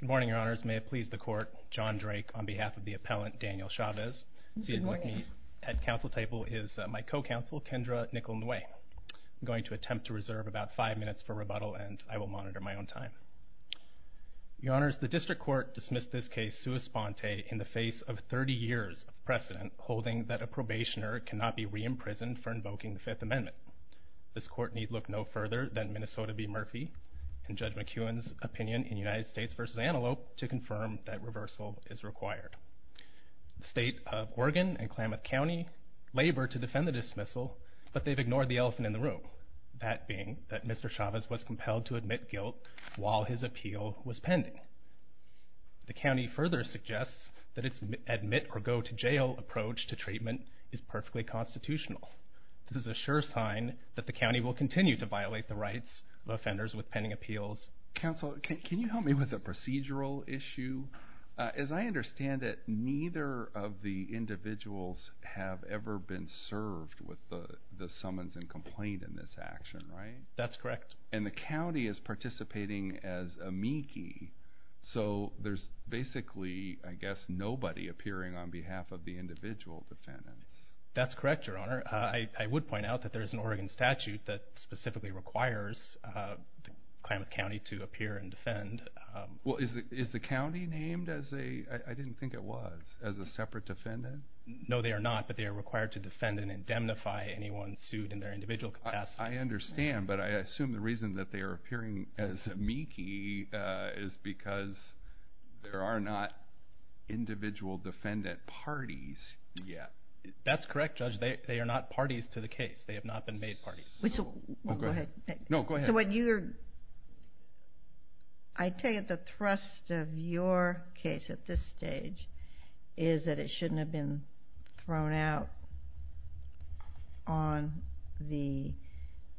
Good morning, your honors. May it please the court, John Drake, on behalf of the appellant, Daniel Chavez. Seated with me at council table is my co-counsel, Kendra Nichol-Ngwe. I'm going to attempt to reserve about five minutes for rebuttal, and I will monitor my own time. Your honors, the district court dismissed this case sua sponte in the face of 30 years of precedent holding that a probationer cannot be re-imprisoned for invoking the Fifth Amendment. This court need look no further than Minnesota v. Murphy and Judge McEwen's opinion in United States v. Antelope to confirm that reversal is required. The state of Oregon and Klamath County labor to defend the dismissal, but they've ignored the elephant in the room, that being that Mr. Chavez was compelled to admit guilt while his appeal was pending. The county further suggests that its admit-or-go-to-jail approach to treatment is perfectly constitutional. This is a sure sign that the county will continue to violate the rights of offenders with pending appeals. Counsel, can you help me with a procedural issue? As I understand it, neither of the individuals have ever been served with the summons and complaint in this action, right? That's correct. And the county is participating as amici, so there's basically, I guess, nobody appearing on behalf of the individual defendant. That's correct, Your Honor. I would point out that there's an Oregon statute that specifically requires Klamath County to appear and defend. Well, is the county named as a – I didn't think it was – as a separate defendant? No, they are not, but they are required to defend and indemnify anyone sued in their individual capacity. I understand, but I assume the reason that they are appearing as amici is because there are not individual defendant parties yet. That's correct, Judge. They are not parties to the case. They have not been made parties. Go ahead. No, go ahead. So what you're – I take it the thrust of your case at this stage is that it shouldn't have been thrown out on the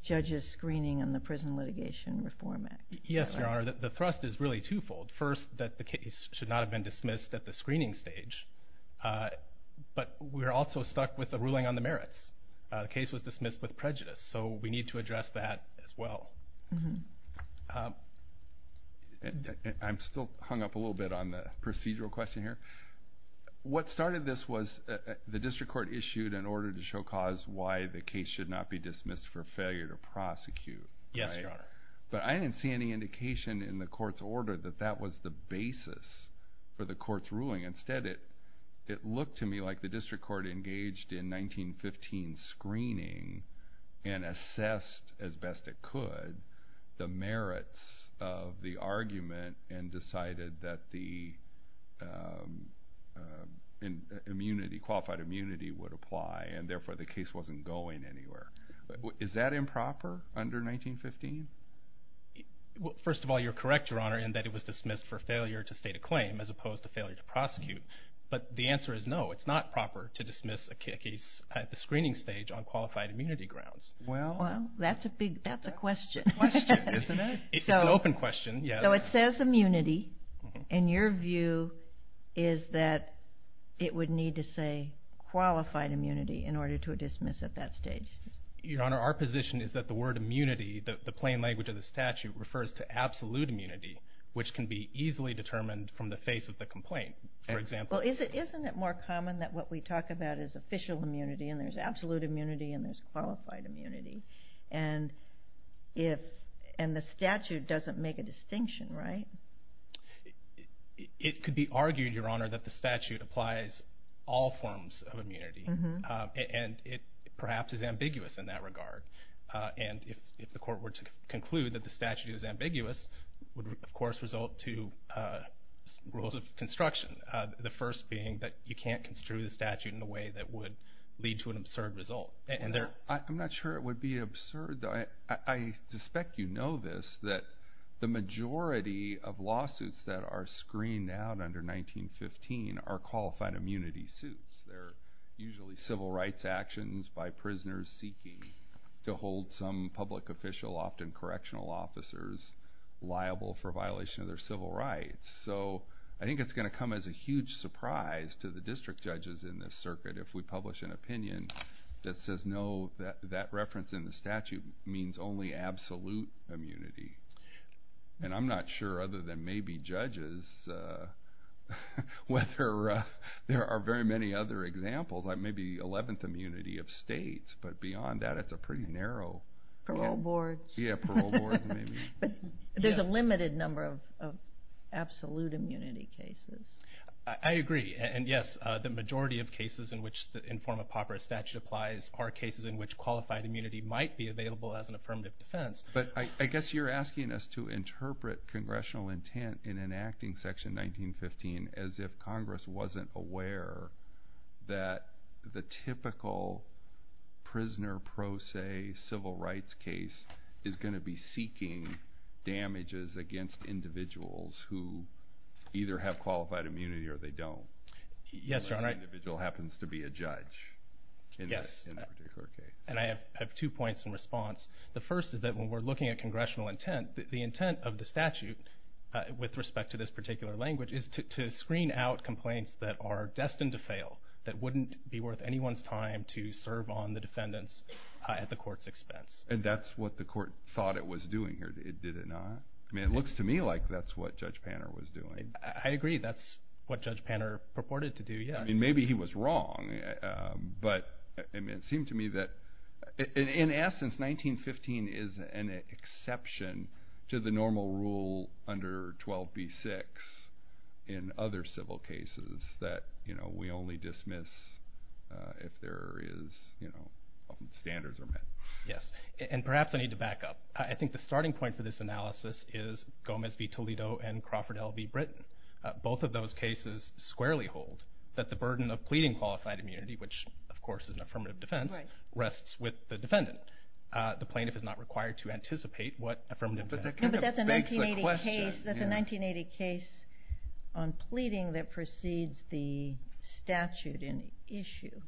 judge's screening on the Prison Litigation Reform Act. Yes, Your Honor. The thrust is really twofold. First, that the case should not have been dismissed at the screening stage, but we're also stuck with the ruling on the merits. The case was dismissed with prejudice, so we need to address that as well. I'm still hung up a little bit on the procedural question here. What started this was the district court issued an order to show cause why the case should not be dismissed for failure to prosecute. Yes, Your Honor. But I didn't see any indication in the court's order that that was the basis for the court's ruling. Instead, it looked to me like the district court engaged in 1915 screening and assessed as best it could the merits of the argument and decided that the qualified immunity would apply, and therefore the case wasn't going anywhere. Is that improper under 1915? First of all, you're correct, Your Honor, in that it was dismissed for failure to state a claim as opposed to failure to prosecute. But the answer is no, it's not proper to dismiss a case at the screening stage on qualified immunity grounds. Well, that's a question. It's an open question, yes. So it says immunity, and your view is that it would need to say qualified immunity in order to dismiss at that stage. Your Honor, our position is that the word immunity, the plain language of the statute, refers to absolute immunity, which can be easily determined from the face of the complaint, for example. Well, isn't it more common that what we talk about is official immunity, and there's absolute immunity, and there's qualified immunity, and the statute doesn't make a distinction, right? It could be argued, Your Honor, that the statute applies all forms of immunity, and it perhaps is ambiguous in that regard. And if the court were to conclude that the statute is ambiguous, it would, of course, result to rules of construction, the first being that you can't construe the statute in a way that would lead to an absurd result. I'm not sure it would be absurd, though. I suspect you know this, that the majority of lawsuits that are screened out under 1915 are qualified immunity suits. They're usually civil rights actions by prisoners seeking to hold some public official, often correctional officers liable for violation of their civil rights. So I think it's going to come as a huge surprise to the district judges in this circuit if we publish an opinion that says, no, that reference in the statute means only absolute immunity. And I'm not sure, other than maybe judges, whether there are very many other examples, like maybe 11th immunity of states, but beyond that, it's a pretty narrow. Parole boards. Yeah, parole boards, maybe. But there's a limited number of absolute immunity cases. I agree. And, yes, the majority of cases in which the informa papra statute applies are cases in which qualified immunity might be available as an affirmative defense. But I guess you're asking us to interpret congressional intent in enacting Section 1915 as if Congress wasn't aware that the typical prisoner pro se civil rights case is going to be seeking damages against individuals who either have qualified immunity or they don't. Yes, Your Honor. Even if the individual happens to be a judge in that particular case. And I have two points in response. The first is that when we're looking at congressional intent, the intent of the statute, with respect to this particular language, is to screen out complaints that are destined to fail, that wouldn't be worth anyone's time to serve on the defendants at the court's expense. And that's what the court thought it was doing here, did it not? I mean, it looks to me like that's what Judge Panner was doing. I agree. That's what Judge Panner purported to do, yes. Maybe he was wrong, but it seemed to me that, in essence, 1915 is an exception to the normal rule under 12b-6 in other civil cases that we only dismiss if there is standards are met. Yes. And perhaps I need to back up. I think the starting point for this analysis is Gomez v. Toledo and Crawford L. v. Britain. Both of those cases squarely hold that the burden of pleading qualified immunity, which, of course, is an affirmative defense, rests with the defendant. The plaintiff is not required to anticipate what affirmative defense is. No, but that's a 1980 case on pleading that precedes the statute in issue.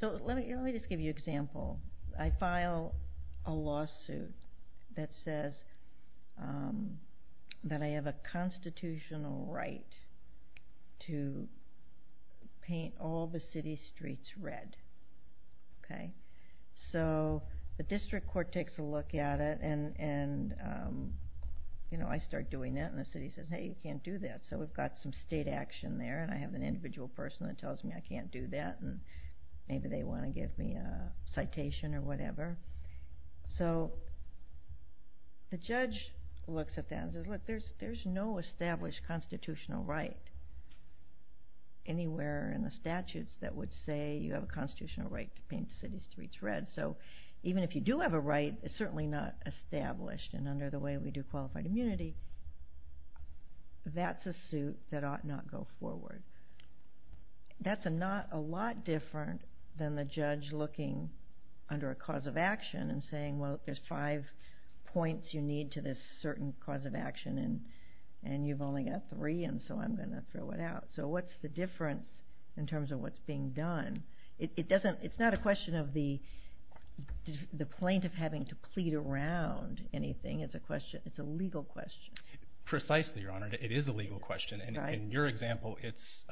So let me just give you an example. I file a lawsuit that says that I have a constitutional right to paint all the city streets red. So the district court takes a look at it, and I start doing that, and the city says, hey, you can't do that. So we've got some state action there, and I have an individual person that tells me I can't do that, and maybe they want to give me a citation or whatever. So the judge looks at that and says, look, there's no established constitutional right anywhere in the statutes that would say you have a constitutional right to paint the city streets red. So even if you do have a right, it's certainly not established, and under the way we do qualified immunity, that's a suit that ought not go forward. That's not a lot different than the judge looking under a cause of action and saying, well, there's five points you need to this certain cause of action, and you've only got three, and so I'm going to throw it out. So what's the difference in terms of what's being done? It's not a question of the plaintiff having to plead around anything. It's a legal question. Precisely, Your Honor. It is a legal question. In your example, it's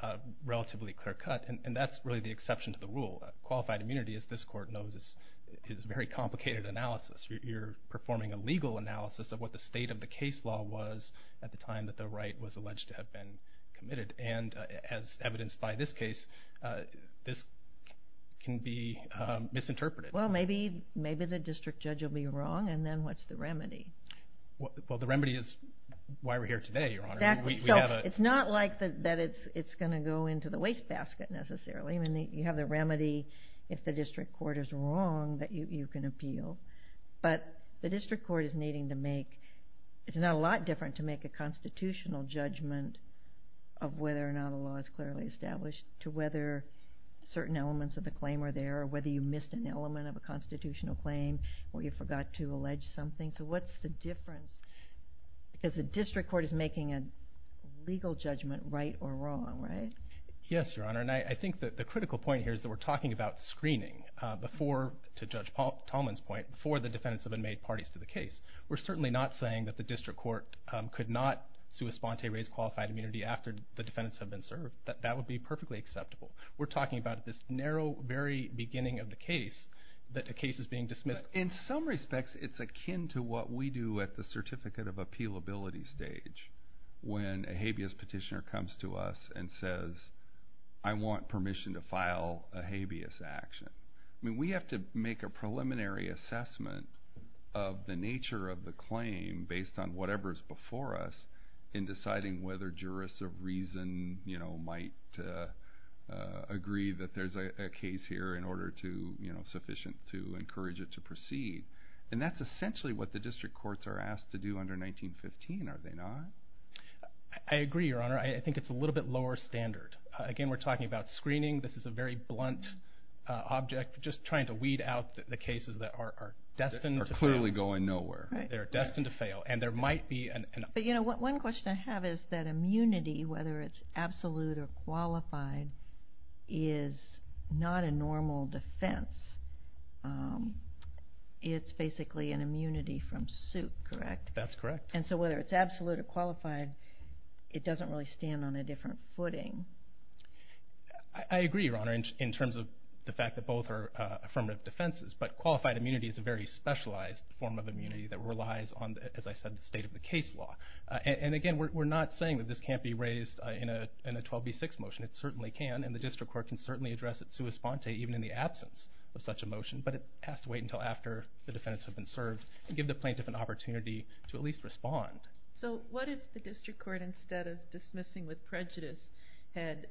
relatively clear-cut, and that's really the exception to the rule. Qualified immunity, as this court knows, is very complicated analysis. You're performing a legal analysis of what the state of the case law was at the time that the right was alleged to have been committed, and as evidenced by this case, this can be misinterpreted. Well, maybe the district judge will be wrong, and then what's the remedy? Well, the remedy is why we're here today, Your Honor. Exactly. So it's not like that it's going to go into the wastebasket necessarily. You have the remedy if the district court is wrong that you can appeal, but the district court is needing to make, it's not a lot different to make a constitutional judgment of whether or not a law is clearly established to whether certain elements of the claim are there or whether you missed an element of a constitutional claim or you forgot to allege something. So what's the difference? Because the district court is making a legal judgment right or wrong, right? Yes, Your Honor, and I think that the critical point here is that we're talking about screening before, to Judge Tallman's point, before the defendants have been made parties to the case. We're certainly not saying that the district court could not sui sponte raise qualified immunity after the defendants have been served. That would be perfectly acceptable. We're talking about this narrow, very beginning of the case that a case is being dismissed. In some respects, it's akin to what we do at the certificate of appealability stage when a habeas petitioner comes to us and says, I want permission to file a habeas action. We have to make a preliminary assessment of the nature of the claim based on whatever is before us in deciding whether jurists of reason might agree that there's a case here in order to, you know, sufficient to encourage it to proceed. And that's essentially what the district courts are asked to do under 1915, are they not? I agree, Your Honor. I think it's a little bit lower standard. Again, we're talking about screening. This is a very blunt object, just trying to weed out the cases that are destined to fail. That are clearly going nowhere. They're destined to fail, and there might be an... But you know, one question I have is that immunity, whether it's absolute or qualified, is not a normal defense. It's basically an immunity from suit, correct? That's correct. And so whether it's absolute or qualified, it doesn't really stand on a different footing. I agree, Your Honor, in terms of the fact that both are affirmative defenses, but qualified immunity is a very specialized form of immunity that relies on, as I said, the state of the case law. And again, we're not saying that this can't be raised in a 12b6 motion. It certainly can, and the district court can certainly address it sua sponte, even in the absence of such a motion. But it has to wait until after the defendants have been served, and give the plaintiff an opportunity to at least respond. So what if the district court, instead of dismissing with prejudice, had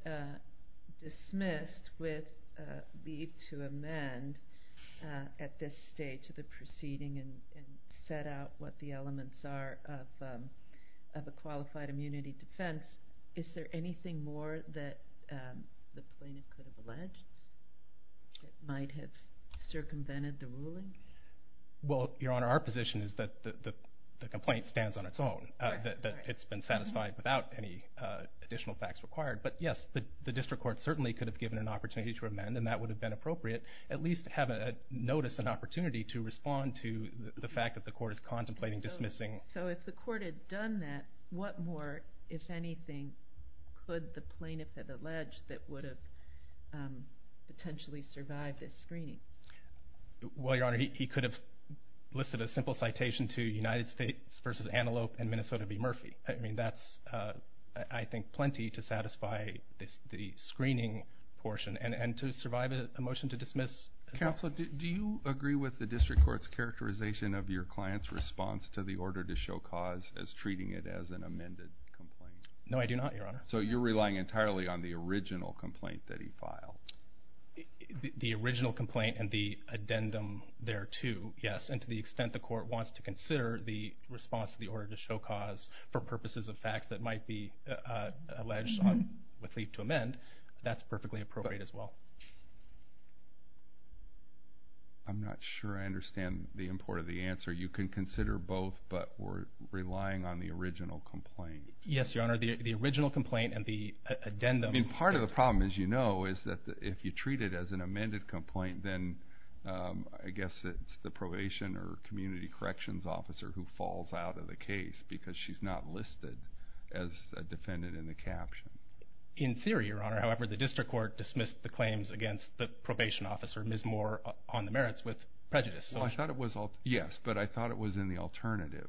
dismissed with a need to amend at this stage of the proceeding and set out what the elements are of a qualified immunity defense? Is there anything more that the plaintiff could have alleged that might have circumvented the ruling? Well, Your Honor, our position is that the complaint stands on its own, that it's been satisfied without any additional facts required. But yes, the district court certainly could have given an opportunity to amend, and that would have been appropriate, at least to have a notice, an opportunity to respond to the fact that the court is contemplating dismissing. So if the court had done that, what more, if anything, could the plaintiff have alleged that would have potentially survived this screening? Well, Your Honor, he could have listed a simple citation to United States v. Antelope and Minnesota v. Murphy. I mean, that's, I think, plenty to satisfy the screening portion and to survive a motion to dismiss. Counsel, do you agree with the district court's characterization of your client's response to the order to show cause as treating it as an amended complaint? No, I do not, Your Honor. So you're relying entirely on the original complaint that he filed? The original complaint and the addendum there, too, yes. And to the extent the court wants to consider the response to the order to show cause for purposes of facts that might be alleged with leave to amend, that's perfectly appropriate as well. I'm not sure I understand the import of the answer. You can consider both, but we're relying on the original complaint. Yes, Your Honor. The original complaint and the addendum. I mean, part of the problem, as you know, is that if you treat it as an amended complaint, then I guess it's the probation or community corrections officer who falls out of the case because she's not listed as a defendant in the caption. In theory, Your Honor. However, the district court dismissed the claims against the probation officer, Ms. Moore, on the merits with prejudice. Yes, but I thought it was in the alternative.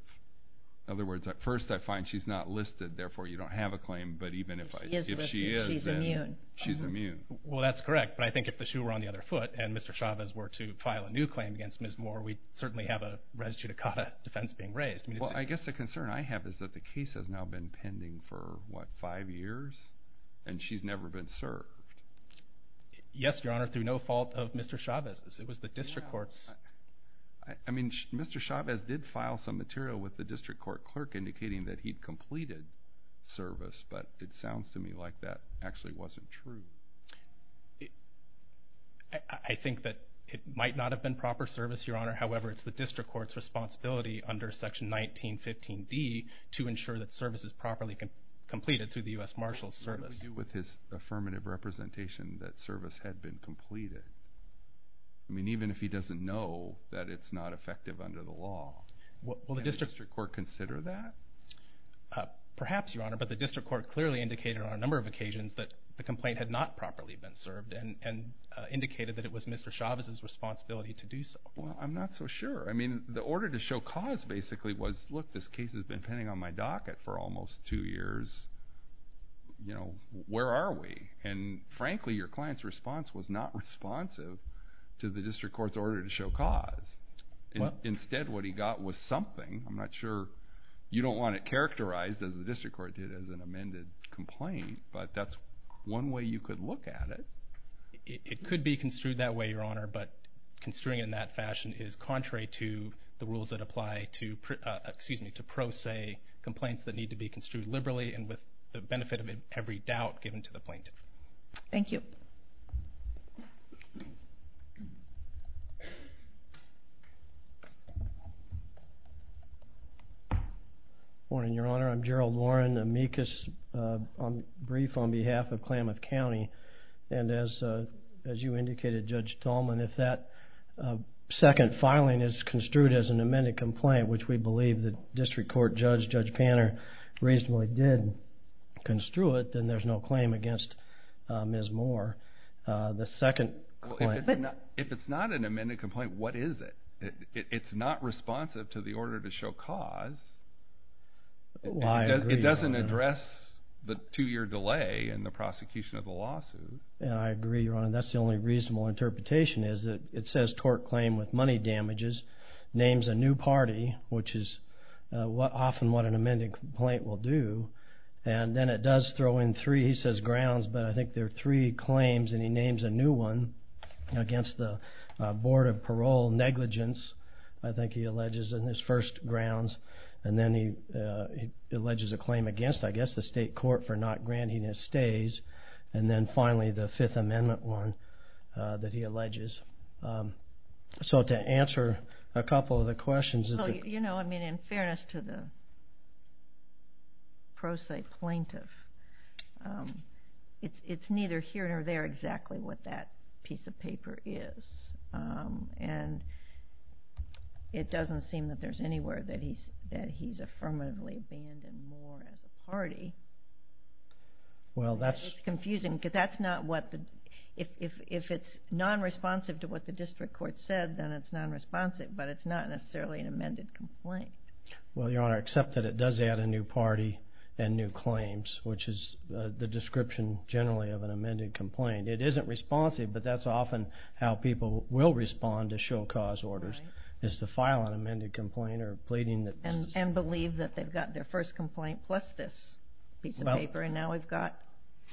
In other words, at first I find she's not listed, therefore you don't have a claim, but even if she is, then she's immune. Well, that's correct, but I think if the shoe were on the other foot and Mr. Chavez were to file a new claim against Ms. Moore, we'd certainly have a res judicata defense being raised. Well, I guess the concern I have is that the case has now been pending for, what, five years? And she's never been served. Yes, Your Honor, through no fault of Mr. Chavez's. It was the district court's. I mean, Mr. Chavez did file some material with the district court clerk indicating that he'd completed service, but it sounds to me like that actually wasn't true. I think that it might not have been proper service, Your Honor. However, it's the district court's responsibility under Section 1915d to ensure that service is properly completed through the U.S. Marshals Service. What did he do with his affirmative representation that service had been completed? I mean, even if he doesn't know that it's not effective under the law, can the district court consider that? Perhaps, Your Honor, but the district court clearly indicated on a number of occasions that the complaint had not properly been served and indicated that it was Mr. Chavez's responsibility to do so. Well, I'm not so sure. I mean, the order to show cause basically was, look, this case has been pending on my docket for almost two years. Where are we? And frankly, your client's response was not responsive to the district court's order to show cause. Instead, what he got was something. I'm not sure. You don't want it characterized, as the district court did, as an amended complaint, but that's one way you could look at it. It could be construed that way, Your Honor, but construing it in that fashion is contrary to the rules that apply to, excuse me, to pro se complaints that need to be construed liberally and with the benefit of every doubt given to the plaintiff. Thank you. Good morning, Your Honor. I'm Gerald Warren, amicus brief on behalf of Klamath County. And as you indicated, Judge Tallman, if that second filing is construed as an amended complaint, which we believe the district court judge, Judge Panner, reasonably did construe it, then there's no claim against Ms. Moore. The second claim. If it's not an amended complaint, what is it? It's not responsive to the order to show cause. I agree, Your Honor. It doesn't address the two-year delay in the prosecution of the lawsuit. I agree, Your Honor. That's the only reasonable interpretation is that it says tort claim with money damages, names a new party, which is often what an amended complaint will do, and then it does throw in three, he says, grounds, but I think there are three claims and he names a new one against the Board of Parole negligence, I think he alleges in his first grounds, and then he alleges a claim against, I guess, the state court for not granting his stays, and then finally the Fifth Amendment one that he alleges. So to answer a couple of the questions. You know, I mean, in fairness to the pro se plaintiff, it's neither here nor there exactly what that piece of paper is, and it doesn't seem that there's anywhere that he's affirmatively abandoned Moore as a party. It's confusing because that's not what the, if it's non-responsive to what the district court said, then it's non-responsive, but it's not necessarily an amended complaint. Well, Your Honor, except that it does add a new party and new claims, which is the description generally of an amended complaint. It isn't responsive, but that's often how people will respond to show cause orders, is to file an amended complaint or pleading. And believe that they've got their first complaint plus this piece of paper, and now we've got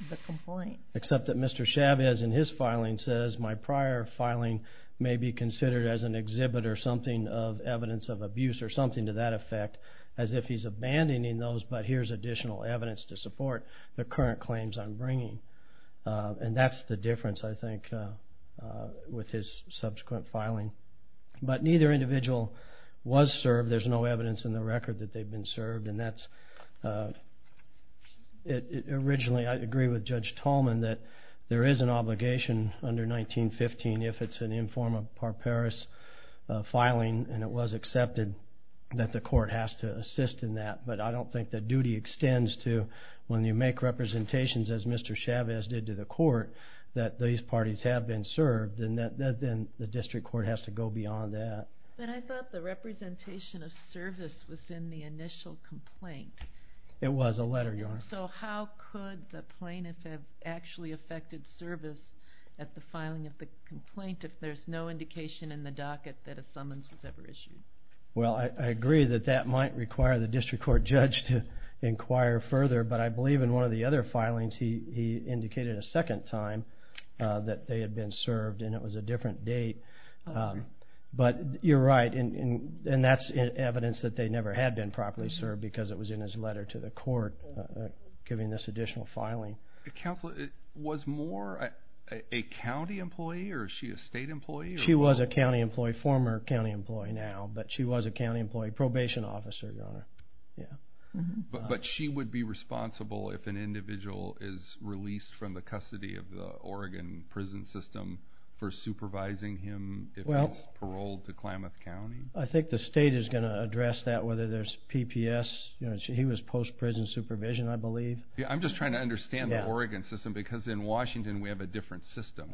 the complaint. Except that Mr. Chavez in his filing says, my prior filing may be considered as an exhibit or something of evidence of abuse or something to that effect, as if he's abandoning those, but here's additional evidence to support the current claims I'm bringing. And that's the difference, I think, with his subsequent filing. But neither individual was served. There's no evidence in the record that they've been served, and that's originally I agree with Judge Tolman that there is an obligation under 1915 if it's an informa par paris filing, and it was accepted that the court has to assist in that, but I don't think the duty extends to when you make representations, as Mr. Chavez did to the court, that these parties have been served, then the district court has to go beyond that. But I thought the representation of service was in the initial complaint. It was a letter, Your Honor. So how could the plaintiff have actually affected service at the filing of the complaint if there's no indication in the docket that a summons was ever issued? Well, I agree that that might require the district court judge to inquire further, but I believe in one of the other filings he indicated a second time that they had been served, and it was a different date. But you're right, and that's evidence that they never had been properly served because it was in his letter to the court giving this additional filing. Counsel, was Moore a county employee, or is she a state employee? She was a county employee, former county employee now, but she was a county employee probation officer, Your Honor. But she would be responsible if an individual is released from the custody of the Oregon prison system for supervising him if he's paroled to Klamath County? I think the state is going to address that, whether there's PPS. He was post-prison supervision, I believe. I'm just trying to understand the Oregon system because in Washington we have a different system.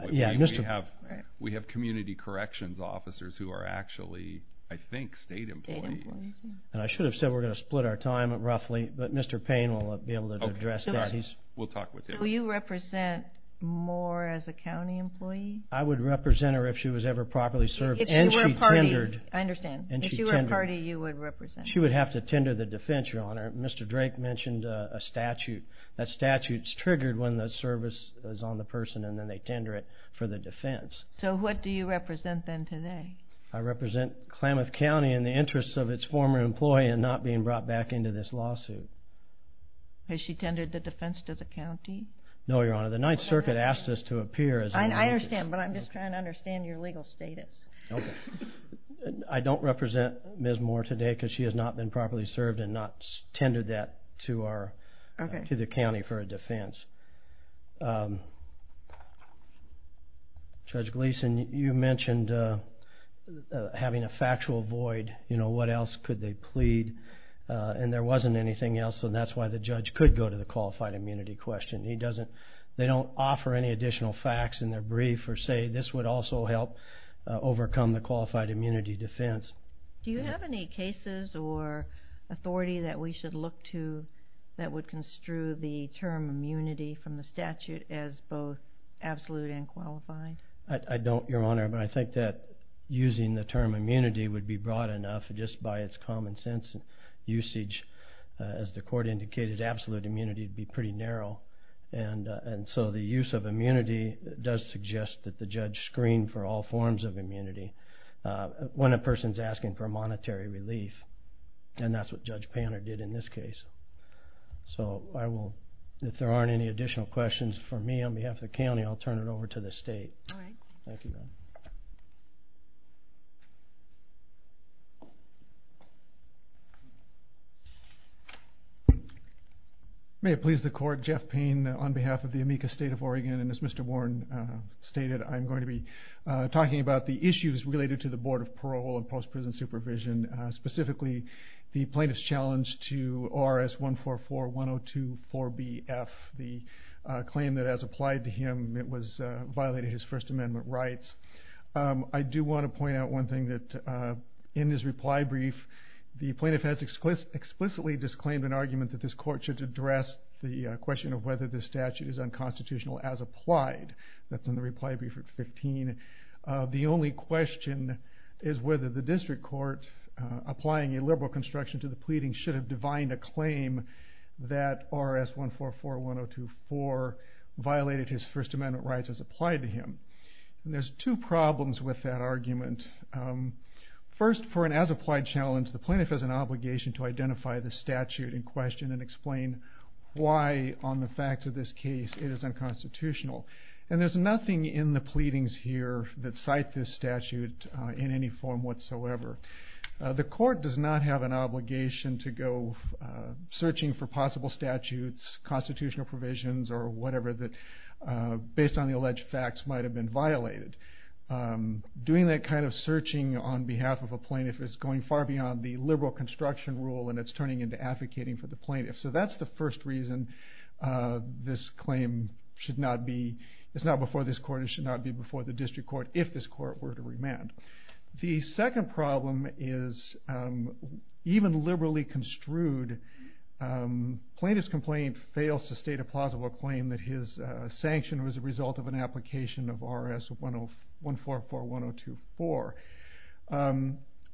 We have community corrections officers who are actually, I think, state employees. And I should have said we're going to split our time roughly, but Mr. Payne will be able to address that. We'll talk with him. So you represent Moore as a county employee? I would represent her if she was ever properly served. If you were a party, I understand. If you were a party, you would represent her. She would have to tender the defense, Your Honor. Mr. Drake mentioned a statute. That statute is triggered when the service is on the person, and then they tender it for the defense. So what do you represent then today? I represent Klamath County in the interest of its former employee and not being brought back into this lawsuit. Has she tendered the defense to the county? No, Your Honor. The Ninth Circuit asked us to appear as an employee. I understand, but I'm just trying to understand your legal status. I don't represent Ms. Moore today because she has not been properly served and not tendered that to the county for a defense. Judge Gleason, you mentioned having a factual void. You know, what else could they plead? And there wasn't anything else, and that's why the judge could go to the qualified immunity question. They don't offer any additional facts in their brief or say this would also help overcome the qualified immunity defense. Do you have any cases or authority that we should look to that would construe the term immunity from the statute as both absolute and qualified? I don't, Your Honor, but I think that using the term immunity would be broad enough just by its common sense usage. As the court indicated, absolute immunity would be pretty narrow, and so the use of immunity does suggest that the judge screen for all forms of immunity when a person is asking for monetary relief, and that's what Judge Panner did in this case. So if there aren't any additional questions for me on behalf of the county, I'll turn it over to the state. All right. Thank you, ma'am. May it please the court. Jeff Payne on behalf of the Amica State of Oregon, and as Mr. Warren stated, I'm going to be talking about the issues related to the Board of Parole and Post-Prison Supervision, specifically the plaintiff's challenge to ORS 1441024BF, the claim that as applied to him it violated his First Amendment rights. I do want to point out one thing, that in his reply brief, the plaintiff has explicitly disclaimed an argument that this court should address the question of whether this statute is unconstitutional as applied. That's in the reply brief at 15. The only question is whether the district court, applying a liberal construction to the pleading, should have divined a claim that ORS 1441024 violated his First Amendment rights as applied to him. There's two problems with that argument. First, for an as applied challenge, the plaintiff has an obligation to identify the statute in question and explain why on the facts of this case it is unconstitutional. And there's nothing in the pleadings here that cite this statute in any form whatsoever. The court does not have an obligation to go searching for possible statutes, constitutional provisions or whatever that, based on the alleged facts, might have been violated. Doing that kind of searching on behalf of a plaintiff is going far beyond the liberal construction rule and it's turning into advocating for the plaintiff. So that's the first reason this claim should not be, it's not before this court, it should not be before the district court if this court were to remand. The second problem is, even liberally construed, plaintiff's complaint fails to state a plausible claim that his sanction was a result of an application of ORS 1441024.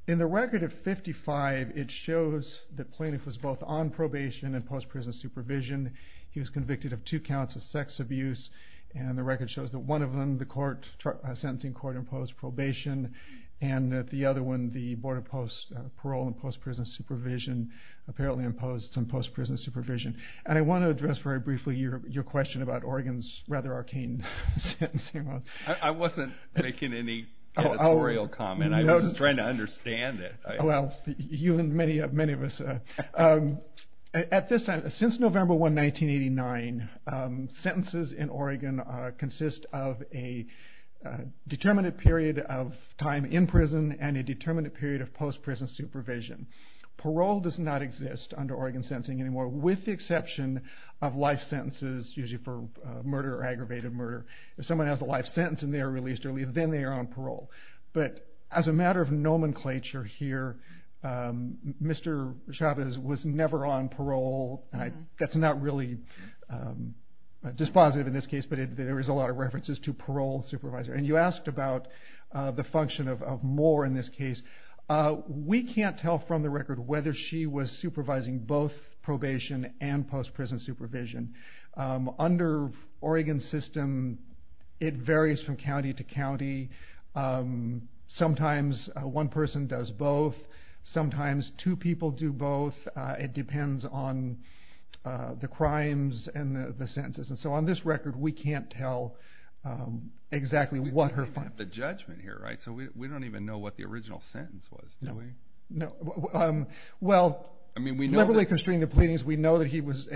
In the record of 55, it shows that plaintiff was both on probation and post-prison supervision. He was convicted of two counts of sex abuse and the record shows that one of them, the sentencing court imposed probation and the other one, the Board of Parole imposed prison supervision, apparently imposed some post-prison supervision. And I want to address very briefly your question about Oregon's rather arcane sentencing laws. I wasn't making any editorial comment. I was just trying to understand it. Well, you and many of us are. Since November 1, 1989, sentences in Oregon consist of a determinate period of time in prison and a determinate period of post-prison supervision. Parole does not exist under Oregon sentencing anymore, with the exception of life sentences, usually for murder or aggravated murder. If someone has a life sentence and they are released early, then they are on parole. But as a matter of nomenclature here, Mr. Chavez was never on parole. That's not really dispositive in this case, but there is a lot of references to parole supervisor. And you asked about the function of more in this case. We can't tell from the record whether she was supervising both probation and post-prison supervision. Under Oregon's system, it varies from county to county. Sometimes one person does both. Sometimes two people do both. It depends on the crimes and the sentences. And so on this record, we can't tell exactly what her function was. We don't have the judgment here, right? So we don't even know what the original sentence was, do we? No. Well, liberally constrained to pleadings, we know that he was...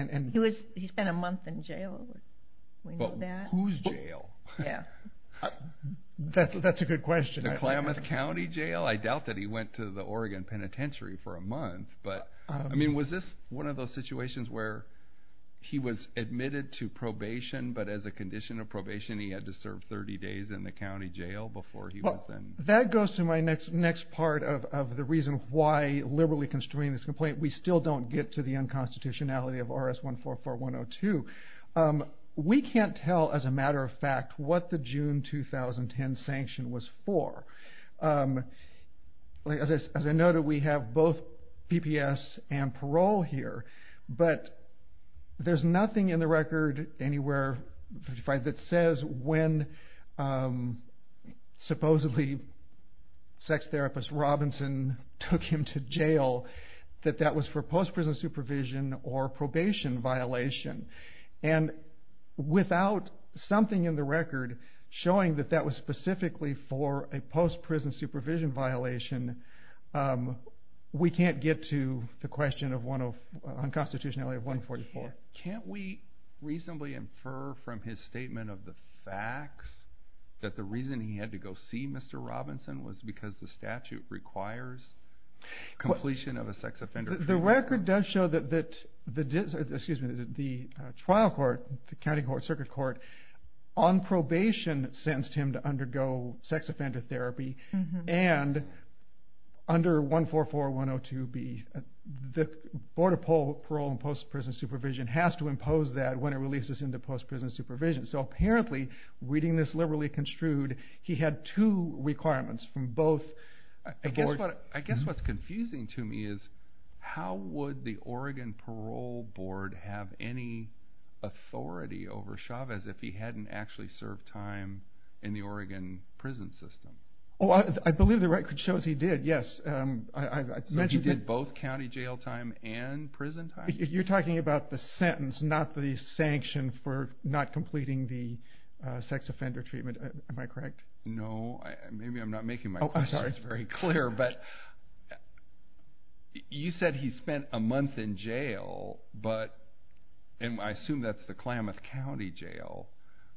He spent a month in jail. Whose jail? That's a good question. The Klamath County Jail? I doubt that he went to the Oregon Penitentiary for a month. Was this one of those situations where he was admitted to probation, but as a condition of probation he had to serve 30 days in the county jail before he was... That goes to my next part of the reason why liberally constraining this complaint. We still don't get to the unconstitutionality of RS-144-102. We can't tell, as a matter of fact, what the June 2010 sanction was for. As I noted, we have both PPS and parole here, but there's nothing in the record anywhere that says when supposedly sex therapist Robinson took him to jail that that was for post-prison supervision or probation violation. Without something in the record showing that that was specifically for a post-prison supervision violation, we can't get to the unconstitutionality of RS-144. Can't we reasonably infer from his statement of the facts that the reason he had to go see Mr. Robinson was because the statute requires completion of a sex offender... The record does show that the trial court, the county court, the circuit court, on probation sentenced him to undergo sex offender therapy, and under RS-144-102, the Board of Parole and Post-Prison Supervision has to impose that when it releases him to post-prison supervision. So apparently, reading this liberally construed, he had two requirements from both... I guess what's confusing to me is how would the Oregon Parole Board have any authority over Chavez if he hadn't actually served time in the Oregon prison system? I believe the record shows he did, yes. He did both county jail time and prison time? You're talking about the sentence, not the sanction for not completing the sex offender treatment. Am I correct? No. Maybe I'm not making my questions very clear. But you said he spent a month in jail, and I assume that's the Klamath County jail.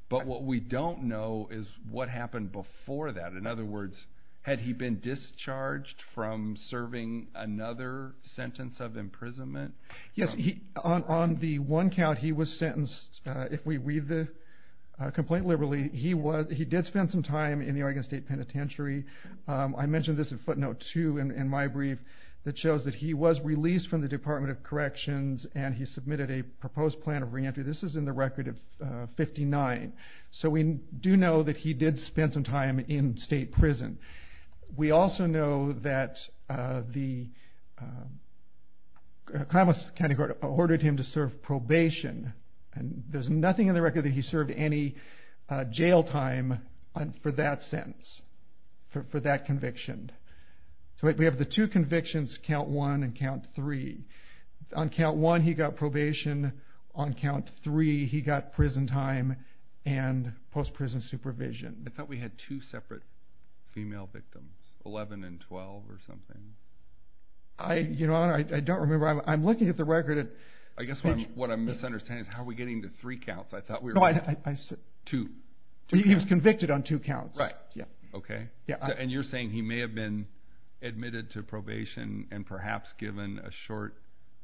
But what we don't know is what happened before that. In other words, had he been discharged from serving another sentence of imprisonment? Yes. On the one count, he was sentenced. If we read the complaint liberally, he did spend some time in the Oregon State Penitentiary. I mentioned this in footnote 2 in my brief. It shows that he was released from the Department of Corrections, and he submitted a proposed plan of reentry. This is in the record of 59. So we do know that he did spend some time in state prison. We also know that the Klamath County Court ordered him to serve probation. There's nothing in the record that he served any jail time for that sentence, for that conviction. So we have the two convictions, count 1 and count 3. On count 1, he got probation. On count 3, he got prison time and post-prison supervision. I thought we had two separate female victims, 11 and 12 or something. Your Honor, I don't remember. I'm looking at the record. I guess what I'm misunderstanding is how are we getting to three counts. I thought we were getting to two. He was convicted on two counts. Right. Okay. And you're saying he may have been admitted to probation and perhaps given a short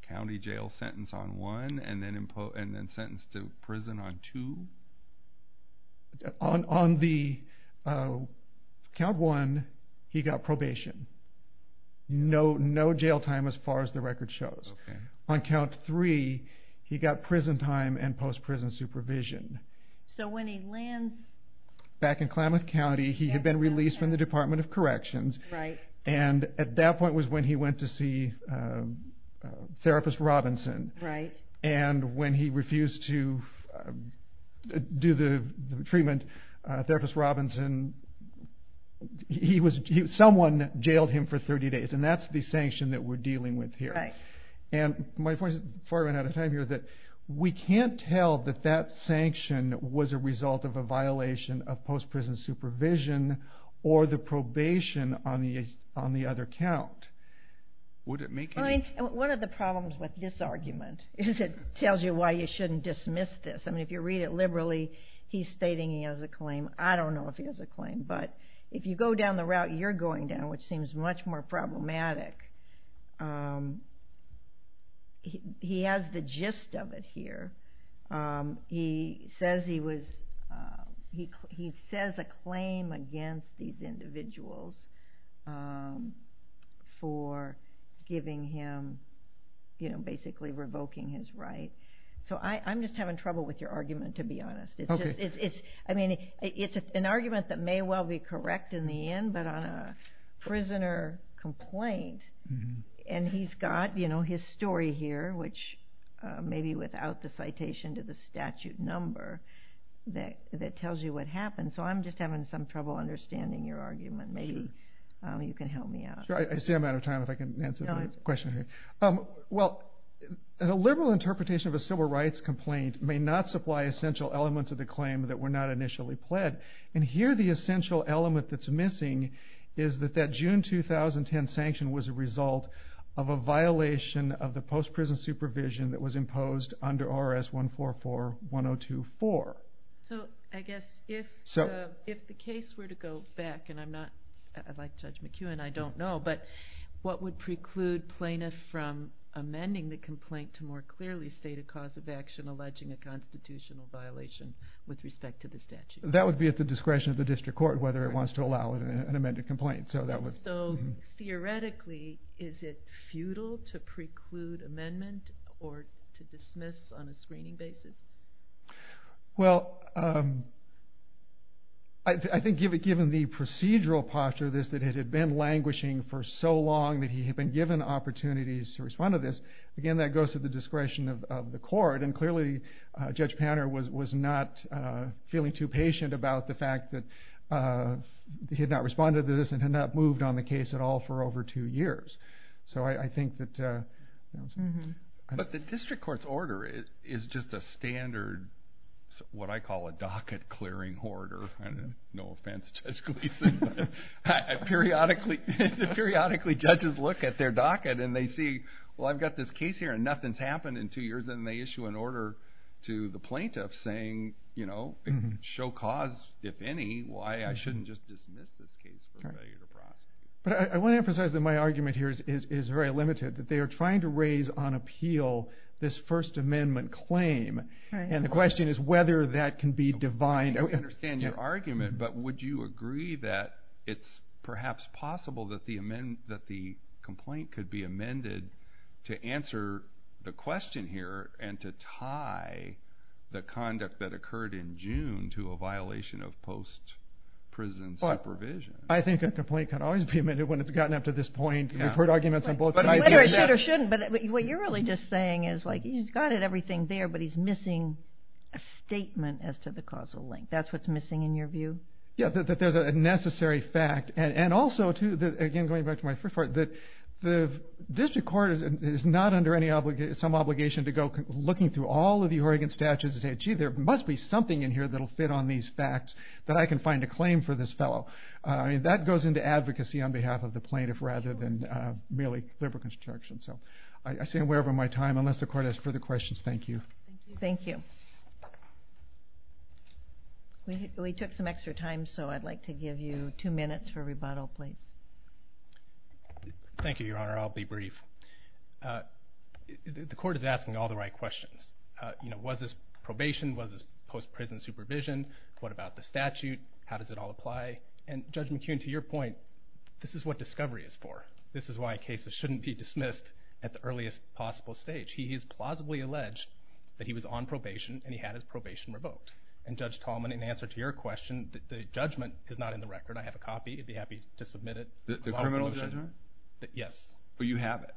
county jail sentence on 1 and then sentenced to prison on 2? On count 1, he got probation. No jail time as far as the record shows. On count 3, he got prison time and post-prison supervision. So when he lands... Back in Klamath County, he had been released from the Department of Corrections. Right. And at that point was when he went to see therapist Robinson. Right. And when he refused to do the treatment, therapist Robinson, someone jailed him for 30 days. And that's the sanction that we're dealing with here. Right. And my point is, before I run out of time here, that we can't tell that that sanction was a result of a violation of post-prison supervision or the probation on the other count. Would it make any... One of the problems with this argument is it tells you why you shouldn't dismiss this. I mean, if you read it liberally, he's stating he has a claim. I don't know if he has a claim. But if you go down the route you're going down, which seems much more problematic, he has the gist of it here. He says he was... He says a claim against these individuals for giving him, you know, basically revoking his right. So I'm just having trouble with your argument, to be honest. Okay. I mean, it's an argument that may well be correct in the end, but on a prisoner complaint. And he's got, you know, his story here, which maybe without the citation to the statute number, that tells you what happened. So I'm just having some trouble understanding your argument. Maybe you can help me out. Sure. I see I'm out of time. If I can answer the question here. Well, a liberal interpretation of a civil rights complaint may not supply essential elements of the claim that were not initially pled. And here the essential element that's missing is that that June 2010 sanction was a result of a violation of the post-prison supervision that was imposed under R.S. 144-1024. So I guess if the case were to go back, and I'm not, like Judge McEwen, I don't know, but what would preclude plaintiffs from amending the complaint to more clearly state a cause of action alleging a constitutional violation with respect to the statute? That would be at the discretion of the district court, whether it wants to allow an amended complaint. So theoretically, is it futile to preclude amendment or to dismiss on a screening basis? Well, I think given the procedural posture of this, that it had been languishing for so long that he had been given opportunities to respond to this, again, that goes to the discretion of the court. And clearly Judge Panner was not feeling too patient about the fact that he had not responded to this and had not moved on the case at all for over two years. So I think that... But the district court's order is just a standard, what I call a docket-clearing order. No offense, Judge Gleason, but periodically judges look at their docket and they see, well, I've got this case here and nothing's happened in two years, and they issue an order to the plaintiff saying, you know, show cause, if any, why I shouldn't just dismiss this case for failure to prosecute. But I want to emphasize that my argument here is very limited, that they are trying to raise on appeal this First Amendment claim, and the question is whether that can be defined. I understand your argument, but would you agree that it's perhaps possible that the complaint could be amended to answer the question here and to tie the conduct that occurred in June to a violation of post-prison supervision? I think a complaint can always be amended when it's gotten up to this point. We've heard arguments on both sides. Whether it should or shouldn't, but what you're really just saying is, like, he's got it, everything there, but he's missing a statement as to the causal link. That's what's missing in your view? Yeah, that there's a necessary fact. And also, too, again, going back to my first point, the district court is not under some obligation to go looking through all of the Oregon statutes and say, gee, there must be something in here that will fit on these facts that I can find a claim for this fellow. I mean, that goes into advocacy on behalf of the plaintiff rather than merely liberal construction. So I stay aware of my time. Unless the court has further questions, thank you. Thank you. We took some extra time, so I'd like to give you two minutes for rebuttal, please. Thank you, Your Honor. I'll be brief. The court is asking all the right questions. You know, was this probation? Was this post-prison supervision? What about the statute? How does it all apply? And, Judge McKeon, to your point, this is what discovery is for. This is why cases shouldn't be dismissed at the earliest possible stage. He has plausibly alleged that he was on probation and he had his probation revoked. And, Judge Tallman, in answer to your question, the judgment is not in the record. I have a copy. I'd be happy to submit it. The criminal judgment? Yes. But you have it?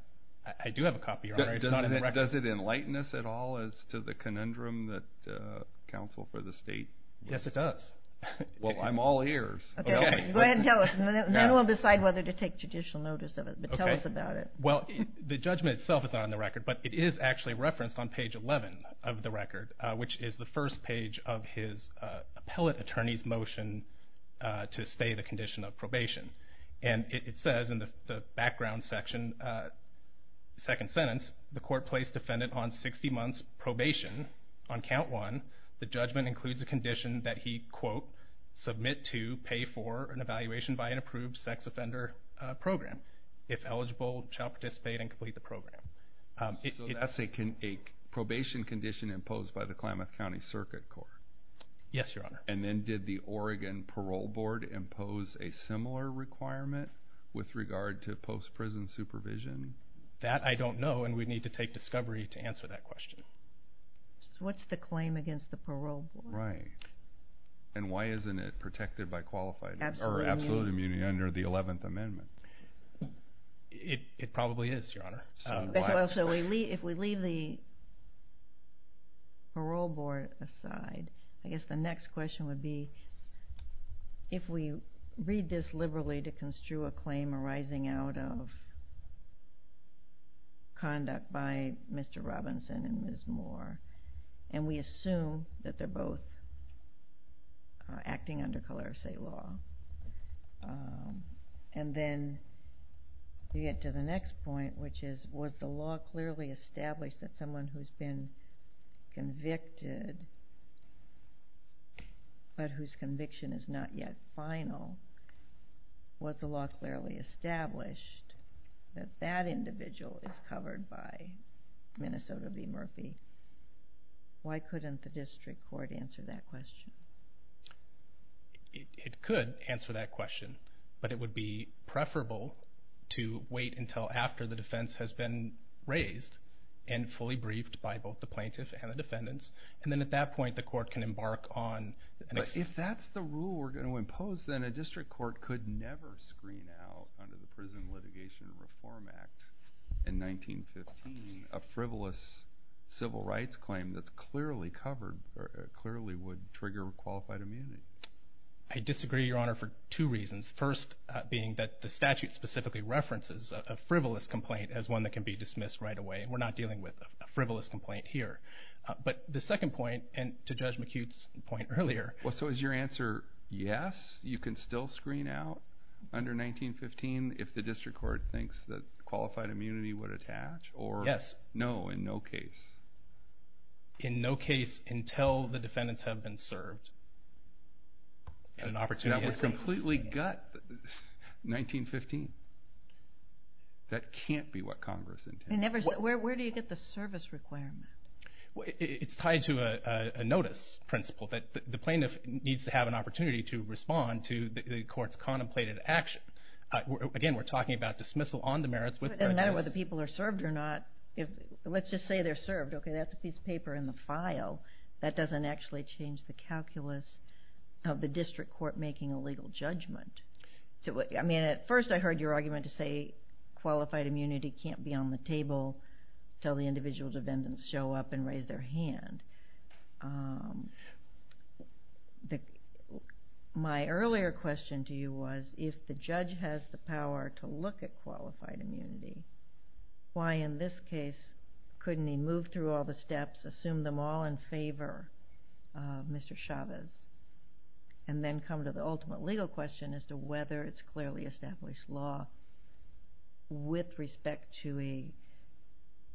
I do have a copy, Your Honor. It's not in the record. Does it enlighten us at all as to the conundrum that counsel for the state? Yes, it does. Well, I'm all ears. Okay. Go ahead and tell us. Then we'll decide whether to take judicial notice of it. But tell us about it. Well, the judgment itself is not in the record. But it is actually referenced on page 11 of the record, which is the first page of his appellate attorney's motion to stay the condition of probation. And it says in the background section, second sentence, the court placed defendant on 60 months probation. On count one, the judgment includes a condition that he, quote, So that's a probation condition imposed by the Klamath County Circuit Court? Yes, Your Honor. And then did the Oregon Parole Board impose a similar requirement with regard to post-prison supervision? That I don't know, and we'd need to take discovery to answer that question. So what's the claim against the parole board? Right. And why isn't it protected by qualified or absolute immunity under the 11th Amendment? It probably is, Your Honor. So if we leave the parole board aside, I guess the next question would be, if we read this liberally to construe a claim arising out of conduct by Mr. Robinson and Ms. Moore, and we assume that they're both acting under color of state law, and then you get to the next point, which is, was the law clearly established that someone who's been convicted but whose conviction is not yet final, was the law clearly established that that individual is covered by Minnesota v. Murphy? Why couldn't the district court answer that question? It could answer that question, but it would be preferable to wait until after the defense has been raised and fully briefed by both the plaintiff and the defendants, and then at that point the court can embark on an extension. But if that's the rule we're going to impose, then a district court could never screen out under the Prison Litigation and Reform Act in 1915 a frivolous civil rights claim that clearly would trigger qualified immunity. I disagree, Your Honor, for two reasons. First being that the statute specifically references a frivolous complaint as one that can be dismissed right away. We're not dealing with a frivolous complaint here. But the second point, and to Judge McHugh's point earlier... So is your answer yes, you can still screen out under 1915 if the district court thinks that qualified immunity would attach? Yes. Or no, in no case? In no case until the defendants have been served. That would completely gut 1915. That can't be what Congress intends. Where do you get the service requirement? It's tied to a notice principle. The plaintiff needs to have an opportunity to respond to the court's contemplated action. Again, we're talking about dismissal on the merits with prejudice. It doesn't matter whether the people are served or not. Let's just say they're served. Okay, that's a piece of paper in the file. That doesn't actually change the calculus of the district court making a legal judgment. At first I heard your argument to say qualified immunity can't be on the table until the individual defendants show up and raise their hand. My earlier question to you was if the judge has the power to look at qualified immunity, why in this case couldn't he move through all the steps, assume them all in favor of Mr. Chavez, and then come to the ultimate legal question as to whether it's clearly established law with respect to a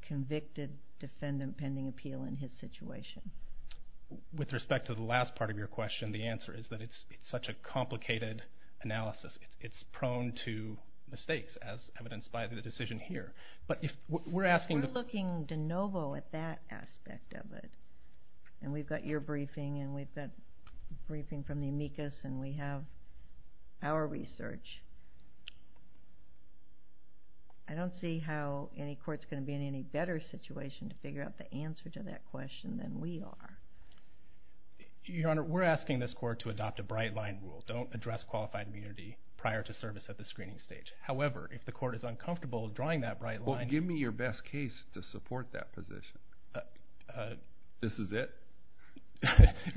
convicted defendant pending appeal in his situation? With respect to the last part of your question, the answer is that it's such a complicated analysis. It's prone to mistakes as evidenced by the decision here. We're looking de novo at that aspect of it. We've got your briefing, and we've got a briefing from the amicus, and we have our research. I don't see how any court's going to be in any better situation to figure out the answer to that question than we are. Your Honor, we're asking this court to adopt a bright-line rule. Don't address qualified immunity prior to service at the screening stage. However, if the court is uncomfortable drawing that bright line— This is it?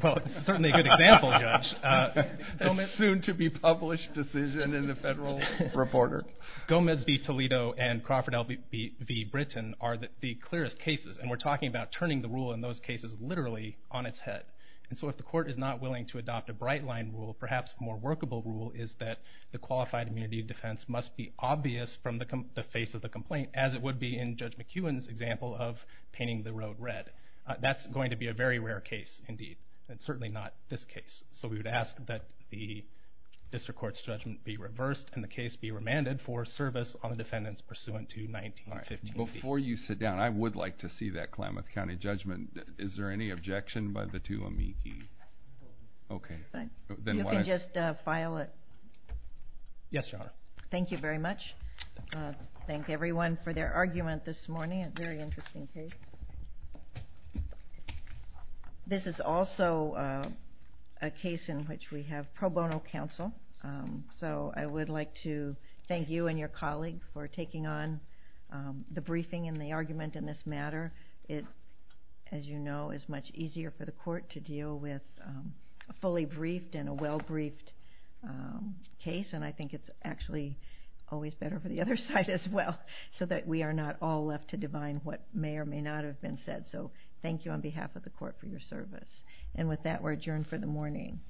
Well, it's certainly a good example, Judge. A soon-to-be-published decision in a federal reporter. Gomez v. Toledo and Crawford L. v. Britton are the clearest cases, and we're talking about turning the rule in those cases literally on its head. So if the court is not willing to adopt a bright-line rule, perhaps a more workable rule is that the qualified immunity defense must be obvious from the face of the complaint, as it would be in Judge McEwen's example of painting the road red. That's going to be a very rare case indeed, and certainly not this case. So we would ask that the district court's judgment be reversed and the case be remanded for service on the defendants pursuant to 1915. Before you sit down, I would like to see that Klamath County judgment. Is there any objection by the two amici? Okay. You can just file it. Yes, Your Honor. Thank you very much. Thank everyone for their argument this morning. A very interesting case. This is also a case in which we have pro bono counsel, so I would like to thank you and your colleague for taking on the briefing and the argument in this matter. As you know, it's much easier for the court to deal with a fully briefed and a well-briefed case, and I think it's actually always better for the other side as well so that we are not all left to divine what may or may not have been said. So thank you on behalf of the court for your service. And with that, we're adjourned for the morning.